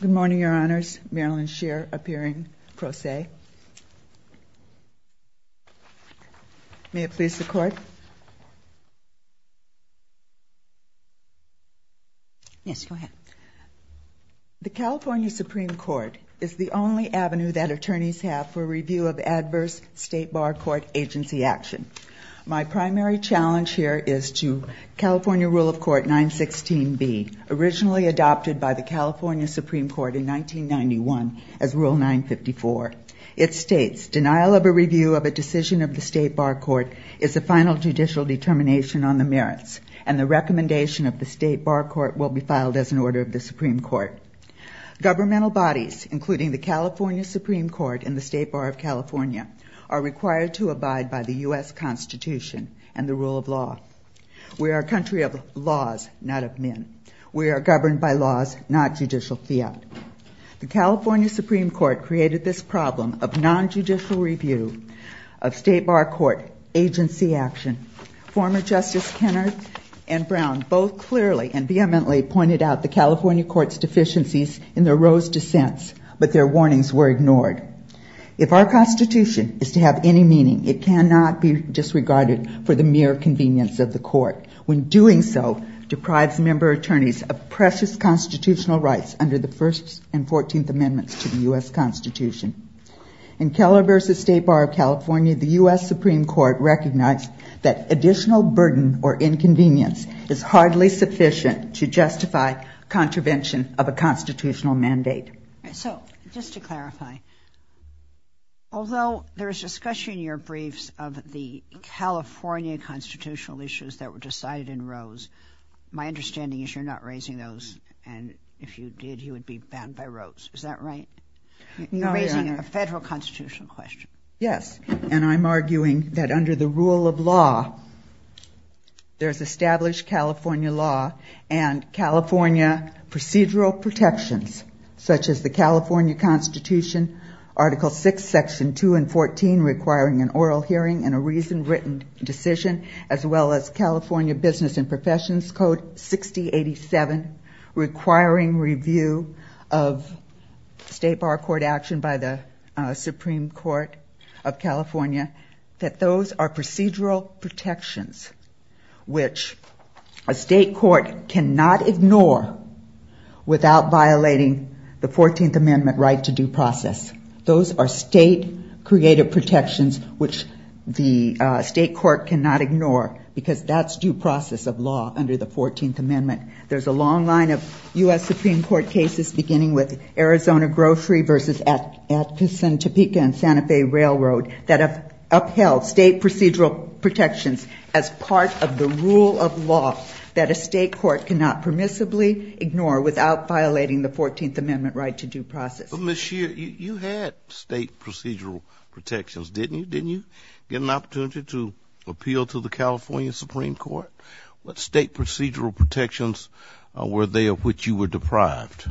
Good morning, Your Honors. Marilyn Scheer, appearing pro se. May it please the Court. Yes, go ahead. The California Supreme Court is the only avenue that attorneys have for review of adverse state bar court agency action. My primary challenge here is to California Rule of Court 916B, originally adopted by the California Supreme Court in 1991 as Rule 954. It states, denial of a review of a decision of the state bar court is a final judicial determination on the merits and the recommendation of the state bar court will be filed as an order of the Supreme Court. Governmental bodies, including the California Supreme Court and the State Bar of California, are required to abide by the U.S. Constitution and the rule of law. We are a country of laws, not of men. We are governed by laws, not judicial fiat. The California Supreme Court created this problem of non-judicial review of state bar court agency action. Former Justices Kenner and Brown both clearly and vehemently pointed out the California Court's deficiencies in their Rose dissents, but their warnings were ignored. If our Constitution is to have any meaning, it cannot be disregarded for the mere convenience of the court. When doing so, deprives member attorneys of precious constitutional rights under the First and Fourteenth Amendments to the U.S. Constitution. In Keller v. State Bar of California, the U.S. Supreme Court recognized that additional burden or inconvenience is hardly sufficient to justify contravention of a constitutional mandate. So just to clarify, although there is discussion in your briefs of the California constitutional issues that were decided in Rose, my understanding is you're not raising those, and if you did, you would be banned by Rose. Is that right? No, Your Honor. You're raising a federal constitutional question. Yes, and I'm arguing that under the rule of law, there's established California law and California procedural protections, such as the California Constitution, Article VI, Section 2 and 14, requiring an oral hearing and a reasoned written decision, as well as California Business and Professions Code 6087, requiring review of state bar court action by the Supreme Court of California, that those are procedural protections which a state court cannot ignore without violating the Fourteenth Amendment right to due process. Those are state-created protections which the state court cannot ignore because that's due process of law under the Fourteenth Amendment. There's a long line of U.S. Supreme Court cases beginning with Arizona Grocery v. Atkinson, Topeka and Santa Fe Railroad that have upheld state procedural protections as part of the rule of law that a state court cannot permissibly ignore without violating the Fourteenth Amendment right to due process. But, Ms. Scheer, you had state procedural protections, didn't you? Didn't you get an opportunity to appeal to the California Supreme Court? What state procedural protections were they of which you were deprived?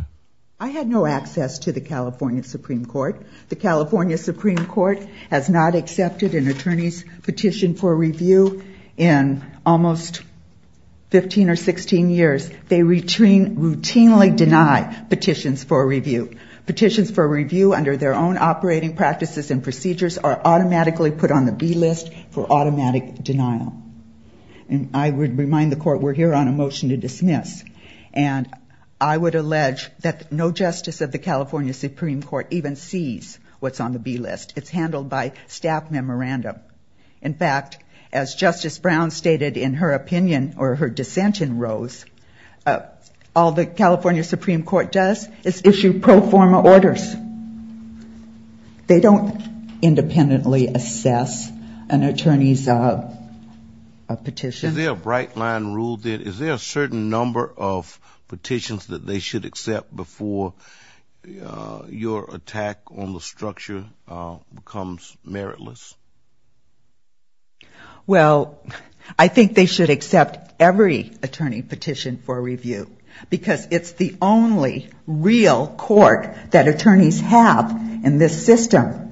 I had no access to the California Supreme Court. The California Supreme Court has not accepted an attorney's petition for review in almost 15 or 16 years. They routinely deny petitions for review. Petitions for review under their own operating practices and procedures are automatically put on the B list for automatic denial. And I would remind the court we're here on a motion to dismiss. And I would allege that no justice of the California Supreme Court even sees what's on the B list. It's handled by staff memorandum. In fact, as Justice Brown stated in her opinion or her dissent in Rose, all the California Supreme Court does is issue pro forma orders. They don't independently assess an attorney's petition. Is there a bright line rule there? Is there a certain number of petitions that they should accept before your attack on the structure becomes meritless? Well, I think they should accept every attorney petition for review, because it's the only real court that attorneys have in this system.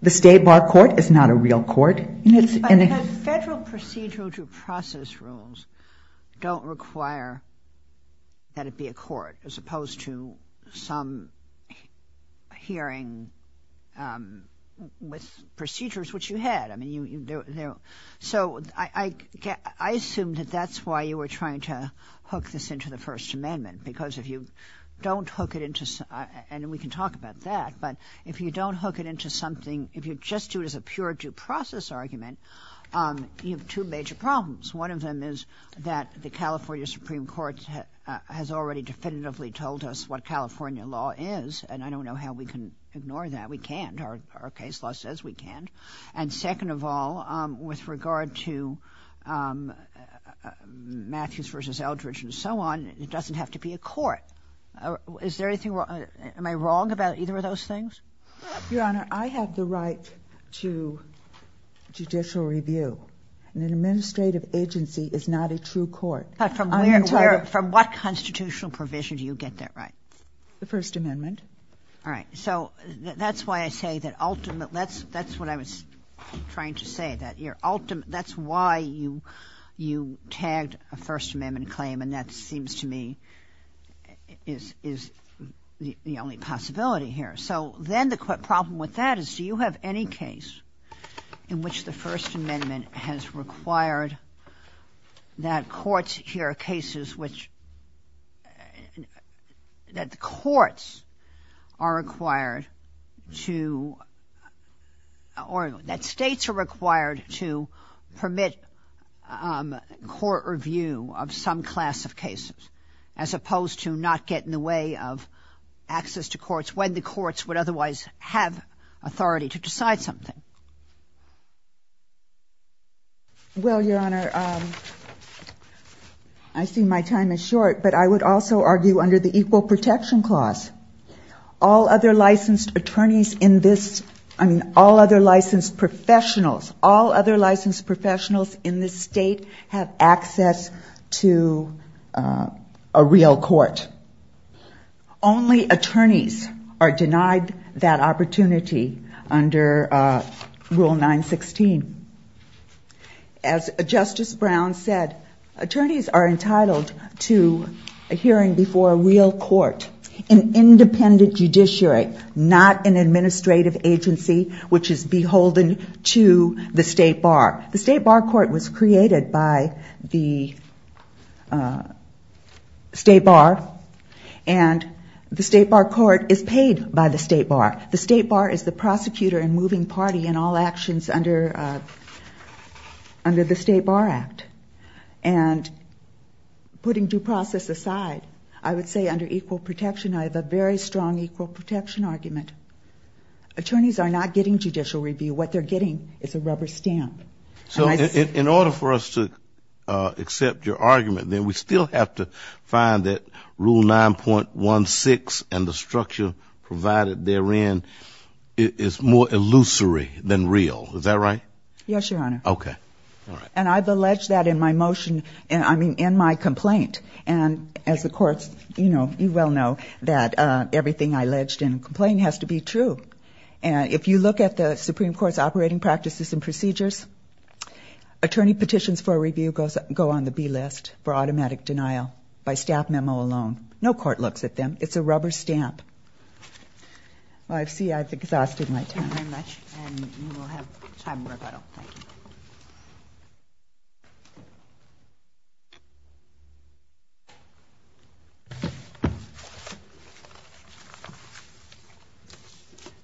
The state bar court is not a real court. Federal procedural due process rules don't require that it be a court, as opposed to some hearing with procedures which you had. So I assume that that's why you were trying to hook this into the First Amendment, because if you don't hook it into, and we can talk about that, but if you don't hook it into something, if you just do it as a pure due process argument, you have two major problems. One of them is that the California Supreme Court has already definitively told us what California law is, and I don't know how we can ignore that. We can't. Our case law says we can't. And second of all, with regard to Matthews v. Eldridge and so on, it doesn't have to be a court. Is there anything wrong? Am I wrong about either of those things? Your Honor, I have the right to judicial review. An administrative agency is not a true court. But from what constitutional provision do you get that right? The First Amendment. All right. So that's why I say that ultimate – that's what I was trying to say, that your ultimate – that's why you tagged a First Amendment claim, and that seems to me is the only possibility here. So then the problem with that is do you have any case in which the First Amendment has required that courts – here are cases which – that the courts are required to – as opposed to not get in the way of access to courts when the courts would otherwise have authority to decide something. Well, Your Honor, I see my time is short, but I would also argue under the Equal Protection Clause, all other licensed attorneys in this – I mean, all other licensed professionals, all other licensed professionals in this state have access to a real court. Only attorneys are denied that opportunity under Rule 916. As Justice Brown said, attorneys are entitled to a hearing before a real court, an independent judiciary, not an administrative agency which is beholden to the state bar. The state bar court was created by the state bar, and the state bar court is paid by the state bar. The state bar is the prosecutor and moving party in all actions under the State Bar Act. And putting due process aside, I would say under equal protection, I have a very strong equal protection argument. Attorneys are not getting judicial review. What they're getting is a rubber stamp. So in order for us to accept your argument, then we still have to find that Rule 9.16 and the structure provided therein is more illusory than real. Is that right? Yes, Your Honor. Okay. All right. And I've alleged that in my motion – I mean, in my complaint. And as the courts, you know, you well know that everything I alleged in the complaint has to be true. And if you look at the Supreme Court's operating practices and procedures, attorney petitions for review go on the B list for automatic denial by staff memo alone. No court looks at them. It's a rubber stamp. Well, I see I've exhausted my time. Thank you very much. And we will have time for rebuttal. Thank you.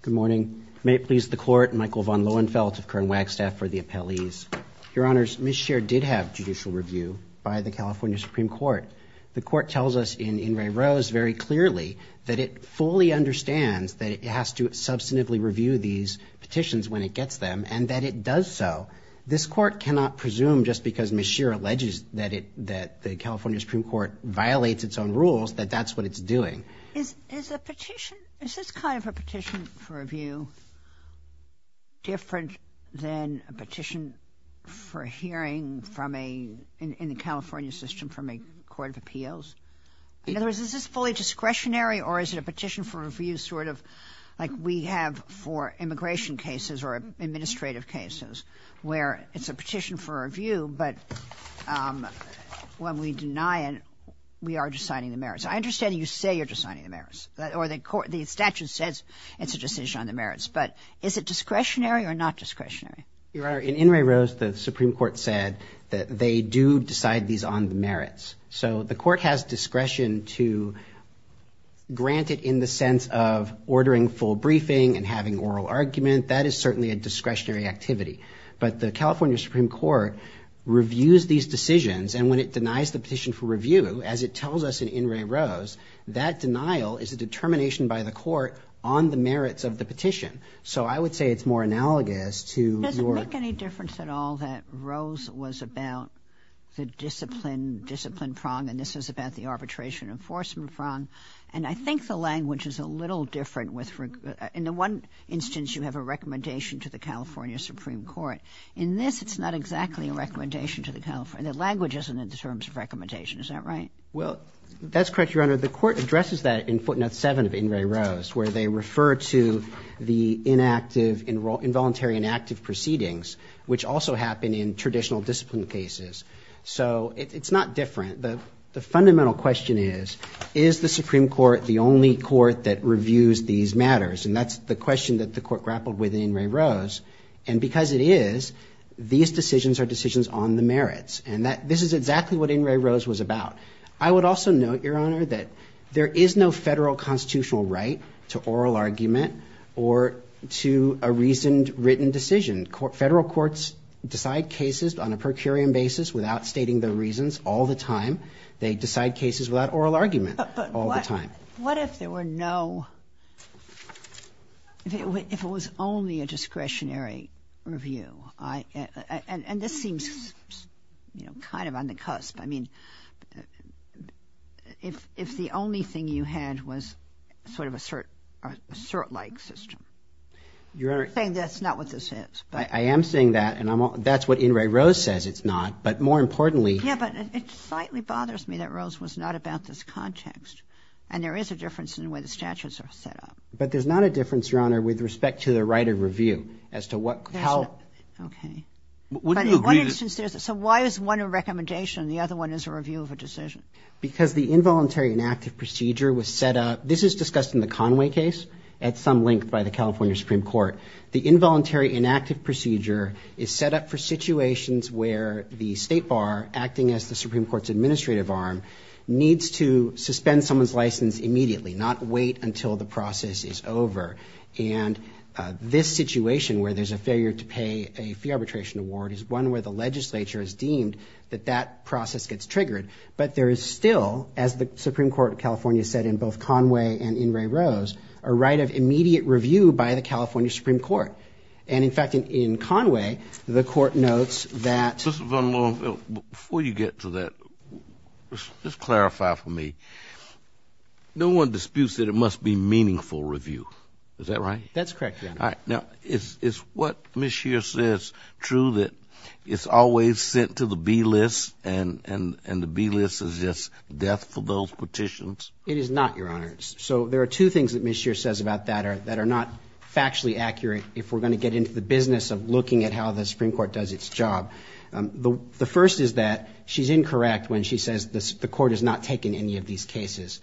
Good morning. May it please the Court, Michael von Lohenfeldt of Kern Wagstaff for the appellees. Your Honors, Ms. Scheer did have judicial review by the California Supreme Court. The Court tells us in Ray Rose very clearly that it fully understands that it has to substantively review these petitions when it gets them and that it does so. This Court cannot presume just because Ms. Scheer alleges that the California Supreme Court violates its own rules that that's what it's doing. Is a petition, is this kind of a petition for review different than a petition for hearing from a, in the California system from a court of appeals? In other words, is this fully discretionary or is it a petition for review sort of like we have for immigration cases or administrative cases where it's a petition for review, but when we deny it, we are just signing the merits. I understand you say you're just signing the merits. Or the statute says it's a decision on the merits. But is it discretionary or not discretionary? Your Honor, in Ray Rose, the Supreme Court said that they do decide these on the merits. So the Court has discretion to grant it in the sense of ordering full briefing and having oral argument. That is certainly a discretionary activity. But the California Supreme Court reviews these decisions. And when it denies the petition for review, as it tells us in Ray Rose, that denial is a determination by the court on the merits of the petition. So I would say it's more analogous to your- Does it make any difference at all that Rose was about the discipline prong and this is about the arbitration enforcement prong? And I think the language is a little different. In the one instance, you have a recommendation to the California Supreme Court. In this, it's not exactly a recommendation to the California. The language isn't in terms of recommendation. Is that right? Well, that's correct, Your Honor. The Court addresses that in Footnote 7 of In Ray Rose, where they refer to the involuntary inactive proceedings, which also happen in traditional discipline cases. So it's not different. The fundamental question is, is the Supreme Court the only court that reviews these matters? And that's the question that the Court grappled with in Ray Rose. And because it is, these decisions are decisions on the merits. And this is exactly what In Ray Rose was about. I would also note, Your Honor, that there is no federal constitutional right to oral argument or to a reasoned written decision. Federal courts decide cases on a per curiam basis without stating the reasons all the time. They decide cases without oral argument all the time. But what if there were no – if it was only a discretionary review? And this seems kind of on the cusp. I mean, if the only thing you had was sort of a cert-like system. I'm saying that's not what this is. I am saying that, and that's what In Ray Rose says it's not. But more importantly – Yeah, but it slightly bothers me that Rose was not about this context. And there is a difference in the way the statutes are set up. But there's not a difference, Your Honor, with respect to the right of review as to what – how – Okay. But in one instance there's – so why is one a recommendation and the other one is a review of a decision? Because the involuntary inactive procedure was set up – this is discussed in the Conway case The involuntary inactive procedure is set up for situations where the State Bar, acting as the Supreme Court's administrative arm, needs to suspend someone's license immediately, not wait until the process is over. And this situation, where there's a failure to pay a fee arbitration award, is one where the legislature has deemed that that process gets triggered. But there is still, as the Supreme Court of California said in both Conway and in Ray Rose, a right of immediate review by the California Supreme Court. And, in fact, in Conway, the court notes that – Mr. Van Loon, before you get to that, just clarify for me. No one disputes that it must be meaningful review. Is that right? That's correct, Your Honor. All right. Now, is what Ms. Scheer says true, that it's always sent to the B-list and the B-list is just death for those petitions? It is not, Your Honor. So there are two things that Ms. Scheer says about that that are not factually accurate if we're going to get into the business of looking at how the Supreme Court does its job. The first is that she's incorrect when she says the court has not taken any of these cases.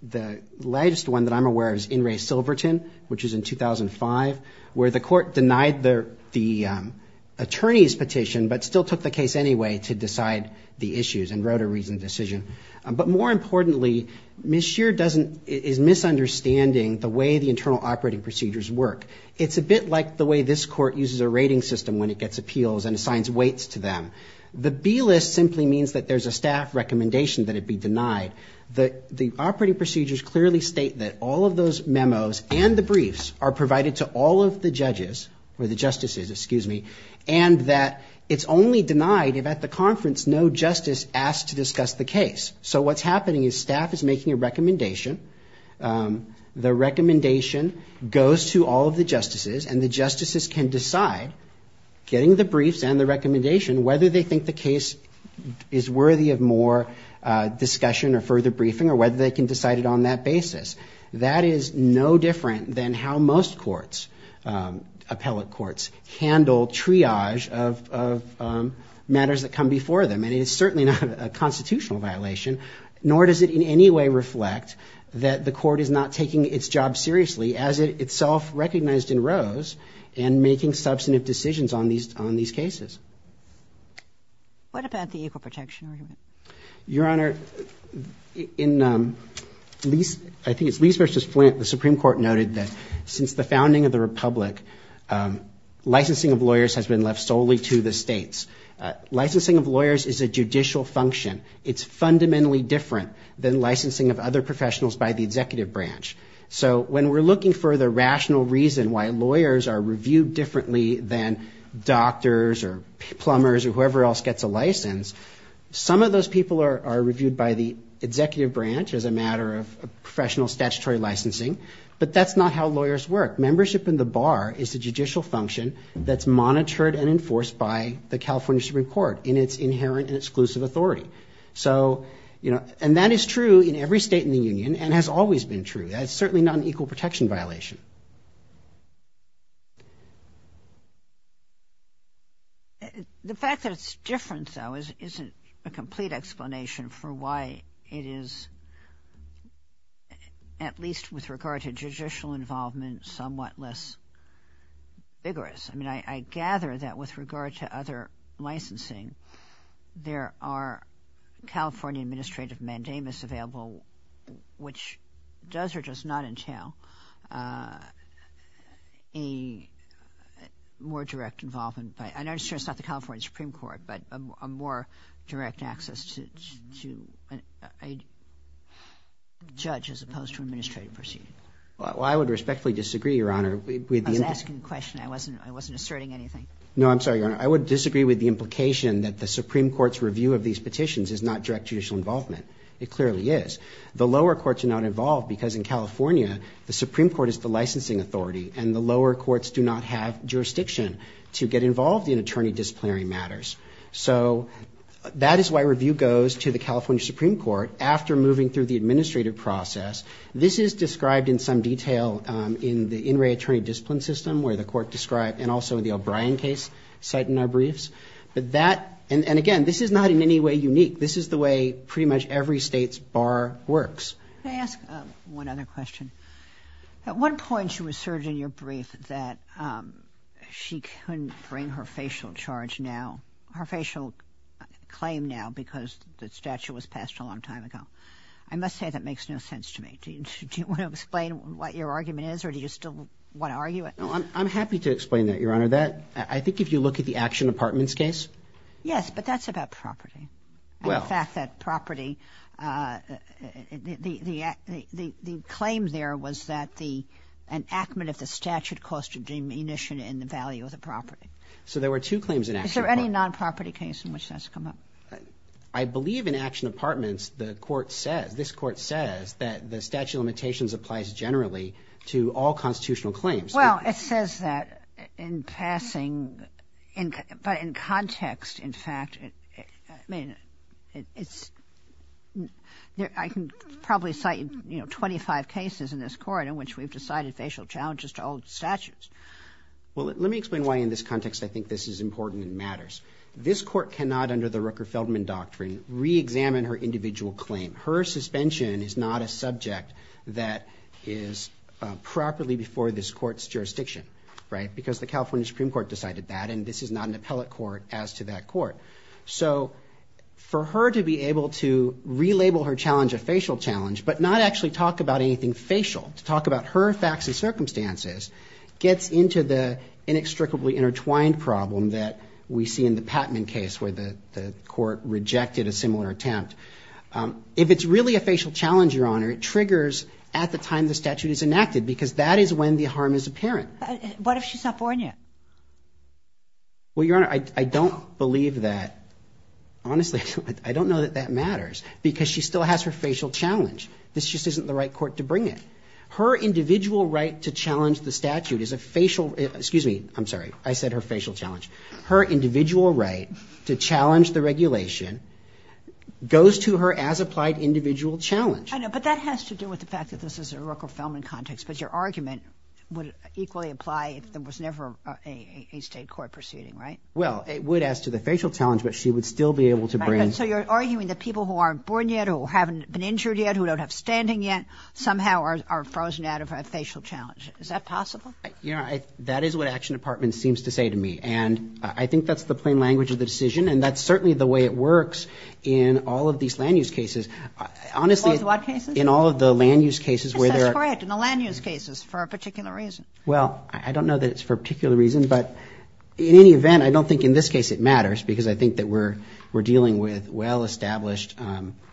The latest one that I'm aware of is in Ray Silverton, which was in 2005, where the court denied the attorney's petition but still took the case anyway to decide the issues and wrote a reasoned decision. But more importantly, Ms. Scheer doesn't – is misunderstanding the way the internal operating procedures work. It's a bit like the way this court uses a rating system when it gets appeals and assigns weights to them. The B-list simply means that there's a staff recommendation that it be denied. The operating procedures clearly state that all of those memos and the briefs are provided to all of the judges – or the justices, excuse me – and that it's only denied if at the conference no justice asks to discuss the case. So what's happening is staff is making a recommendation. The recommendation goes to all of the justices, and the justices can decide, getting the briefs and the recommendation, whether they think the case is worthy of more discussion or further briefing or whether they can decide it on that basis. That is no different than how most courts, appellate courts, handle triage of matters that come before them. And it is certainly not a constitutional violation, nor does it in any way reflect that the court is not taking its job seriously as it itself recognized in Rose and making substantive decisions on these cases. What about the equal protection argument? Your Honor, in – I think it's Lease v. Flint, the Supreme Court noted that since the founding of the Republic, licensing of lawyers has been left solely to the states. Licensing of lawyers is a judicial function. It's fundamentally different than licensing of other professionals by the executive branch. So when we're looking for the rational reason why lawyers are reviewed differently than doctors or plumbers or whoever else gets a license, some of those people are reviewed by the executive branch as a matter of professional statutory licensing, but that's not how lawyers work. Membership in the bar is a judicial function that's monitored and enforced by the California Supreme Court in its inherent and exclusive authority. So, you know, and that is true in every state in the union and has always been true. That's certainly not an equal protection violation. Thank you. The fact that it's different, though, isn't a complete explanation for why it is, at least with regard to judicial involvement, somewhat less vigorous. I mean, I gather that with regard to other licensing, there are California administrative mandamus available, which does or does not entail a more direct involvement by, and I understand it's not the California Supreme Court, but a more direct access to a judge as opposed to an administrative proceeding. Well, I would respectfully disagree, Your Honor. I was asking a question. I wasn't asserting anything. No, I'm sorry, Your Honor. I would disagree with the implication that the Supreme Court's review of these petitions is not direct judicial involvement. It clearly is. The lower courts are not involved because in California, the Supreme Court is the licensing authority, and the lower courts do not have jurisdiction to get involved in attorney disciplinary matters. So that is why review goes to the California Supreme Court after moving through the administrative process. This is described in some detail in the In Re Attorney Discipline System, where the court described, and also the O'Brien case cited in our briefs. But that, and again, this is not in any way unique. This is the way pretty much every state's bar works. Can I ask one other question? At one point, you asserted in your brief that she couldn't bring her facial charge now, her facial claim now because the statute was passed a long time ago. I must say that makes no sense to me. Do you want to explain what your argument is, or do you still want to argue it? I'm happy to explain that, Your Honor. I think if you look at the Action Apartments case. Yes, but that's about property. Well. In fact, that property, the claim there was that an acumen of the statute caused a diminution in the value of the property. So there were two claims in Action Apartments. Is there any non-property case in which that's come up? I believe in Action Apartments, the court says, this court says that the statute of limitations applies generally to all constitutional claims. Well, it says that in passing, but in context, in fact, I mean, it's – I can probably cite, you know, 25 cases in this court in which we've decided facial challenges to old statutes. Well, let me explain why in this context I think this is important and matters. This court cannot, under the Rooker-Feldman doctrine, reexamine her individual claim. Her suspension is not a subject that is properly before this court's jurisdiction, right, because the California Supreme Court decided that, and this is not an appellate court as to that court. So for her to be able to relabel her challenge a facial challenge but not actually talk about anything facial, to talk about her facts and circumstances, gets into the inextricably intertwined problem that we see in the Patman case where the court rejected a similar attempt. If it's really a facial challenge, Your Honor, it triggers at the time the statute is enacted because that is when the harm is apparent. But what if she's not born yet? Well, Your Honor, I don't believe that. Honestly, I don't know that that matters because she still has her facial challenge. This just isn't the right court to bring it. Her individual right to challenge the statute is a facial – excuse me. I'm sorry. I said her facial challenge. Her individual right to challenge the regulation goes to her as applied individual challenge. I know, but that has to do with the fact that this is a Rooker-Feldman context, but your argument would equally apply if there was never a state court proceeding, right? Well, it would as to the facial challenge, but she would still be able to bring – So you're arguing that people who aren't born yet, who haven't been injured yet, who don't have standing yet somehow are frozen out of a facial challenge. Is that possible? Your Honor, that is what Action Department seems to say to me. And I think that's the plain language of the decision, and that's certainly the way it works in all of these land-use cases. Honestly, in all of the land-use cases where there are – Yes, that's correct. In the land-use cases for a particular reason. Well, I don't know that it's for a particular reason, but in any event, I don't think in this case it matters because I think that we're dealing with well-established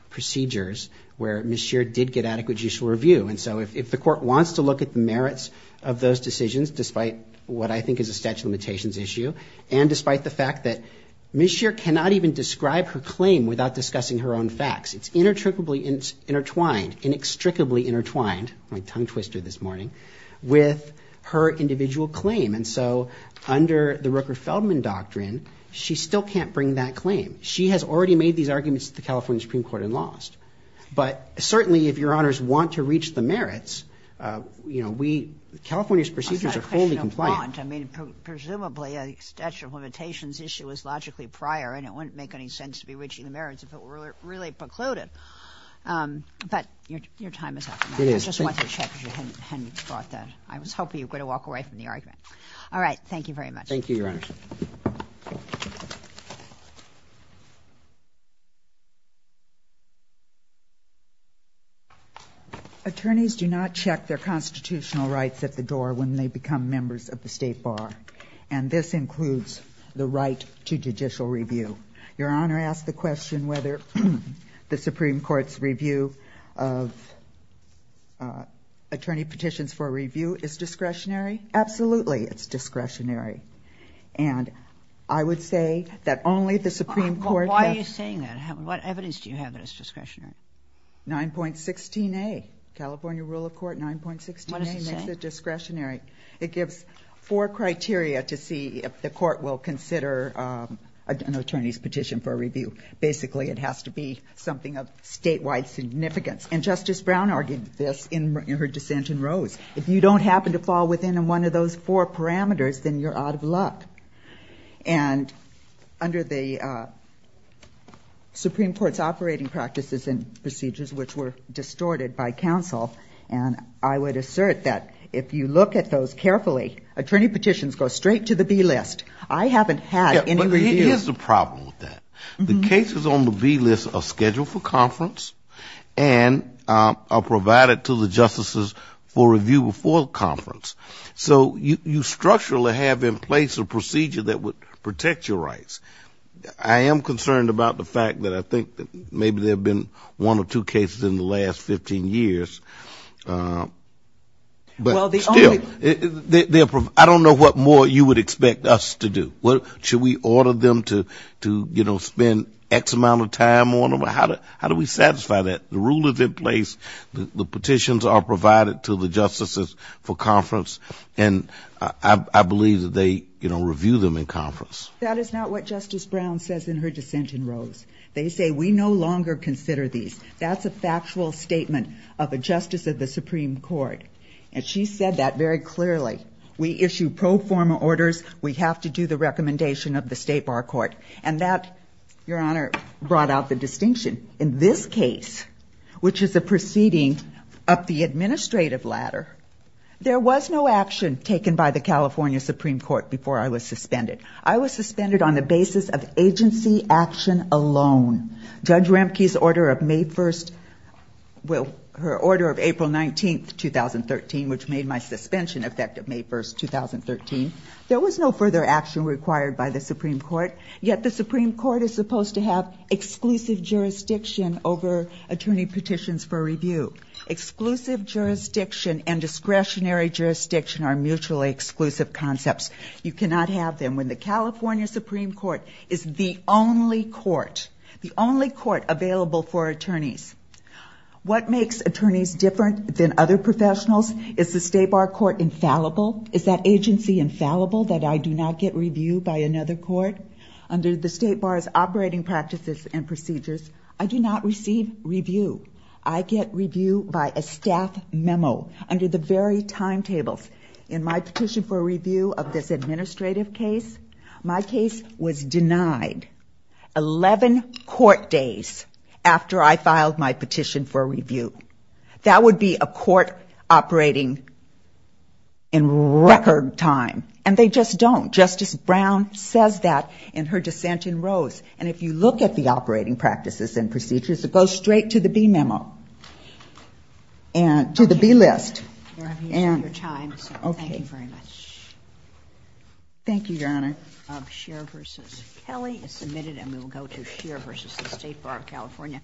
procedures where Ms. Scheer did get adequate judicial review. And so if the court wants to look at the merits of those decisions, despite what I think is a statute of limitations issue, and despite the fact that Ms. Scheer cannot even describe her claim without discussing her own facts. It's inextricably intertwined – my tongue twisted this morning – with her individual claim. And so under the Rooker-Feldman Doctrine, she still can't bring that claim. She has already made these arguments to the California Supreme Court and lost. But certainly, if Your Honors want to reach the merits, you know, we – California's procedures are fully compliant. I mean, presumably a statute of limitations issue is logically prior and it wouldn't make any sense to be reaching the merits if it were really precluded. But your time is up. It is. I just wanted to check if you hadn't brought that. I was hoping you were going to walk away from the argument. All right. Thank you very much. Thank you, Your Honors. Attorneys do not check their constitutional rights at the door when they become members of the State Bar. And this includes the right to judicial review. Your Honor, I ask the question whether the Supreme Court's review of attorney petitions for review is discretionary. Absolutely, it's discretionary. And I would say that only the Supreme Court— Why are you saying that? What evidence do you have that it's discretionary? 9.16a. California rule of court 9.16a makes it discretionary. What does it say? It gives four criteria to see if the court will consider an attorney's petition for review. Basically, it has to be something of statewide significance. And Justice Brown argued this in her dissent in Rose. If you don't happen to fall within one of those four parameters, then you're out of luck. And under the Supreme Court's operating practices and procedures, which were distorted by counsel, and I would assert that if you look at those carefully, attorney petitions go straight to the B list. I haven't had any review. But here's the problem with that. The cases on the B list are scheduled for conference and are provided to the justices for review before conference. So you structurally have in place a procedure that would protect your rights. I am concerned about the fact that I think maybe there have been one or two cases in the last 15 years. But still, I don't know what more you would expect us to do. Should we order them to, you know, spend X amount of time on them? How do we satisfy that? The rule is in place. The petitions are provided to the justices for conference. And I believe that they, you know, review them in conference. That is not what Justice Brown says in her dissent in Rose. They say we no longer consider these. That's a factual statement of a justice of the Supreme Court. And she said that very clearly. We issue pro forma orders. We have to do the recommendation of the state bar court. And that, Your Honor, brought out the distinction. In this case, which is a proceeding up the administrative ladder, there was no action taken by the California Supreme Court before I was suspended. I was suspended on the basis of agency action alone. Judge Ramke's order of May 1st, well, her order of April 19th, 2013, which made my suspension effective May 1st, 2013, there was no further action required by the Supreme Court. Yet the Supreme Court is supposed to have exclusive jurisdiction over attorney petitions for review. Exclusive jurisdiction and discretionary jurisdiction are mutually exclusive concepts. You cannot have them. When the California Supreme Court is the only court, the only court available for attorneys, what makes attorneys different than other professionals? Is the state bar court infallible? Is that agency infallible that I do not get review by another court? Under the state bar's operating practices and procedures, I do not receive review. I get review by a staff memo under the very timetables. In my petition for review of this administrative case, my case was denied 11 court days after I filed my petition for review. That would be a court operating in record time. And they just don't. Justice Brown says that in her dissent in Rose. And if you look at the operating practices and procedures, it goes straight to the B memo and to the B list. Okay. We're having to use up your time, so thank you very much. Okay. Thank you, Your Honor. Scheer v. Kelly is submitted, and we will go to Scheer v. State Bar of California.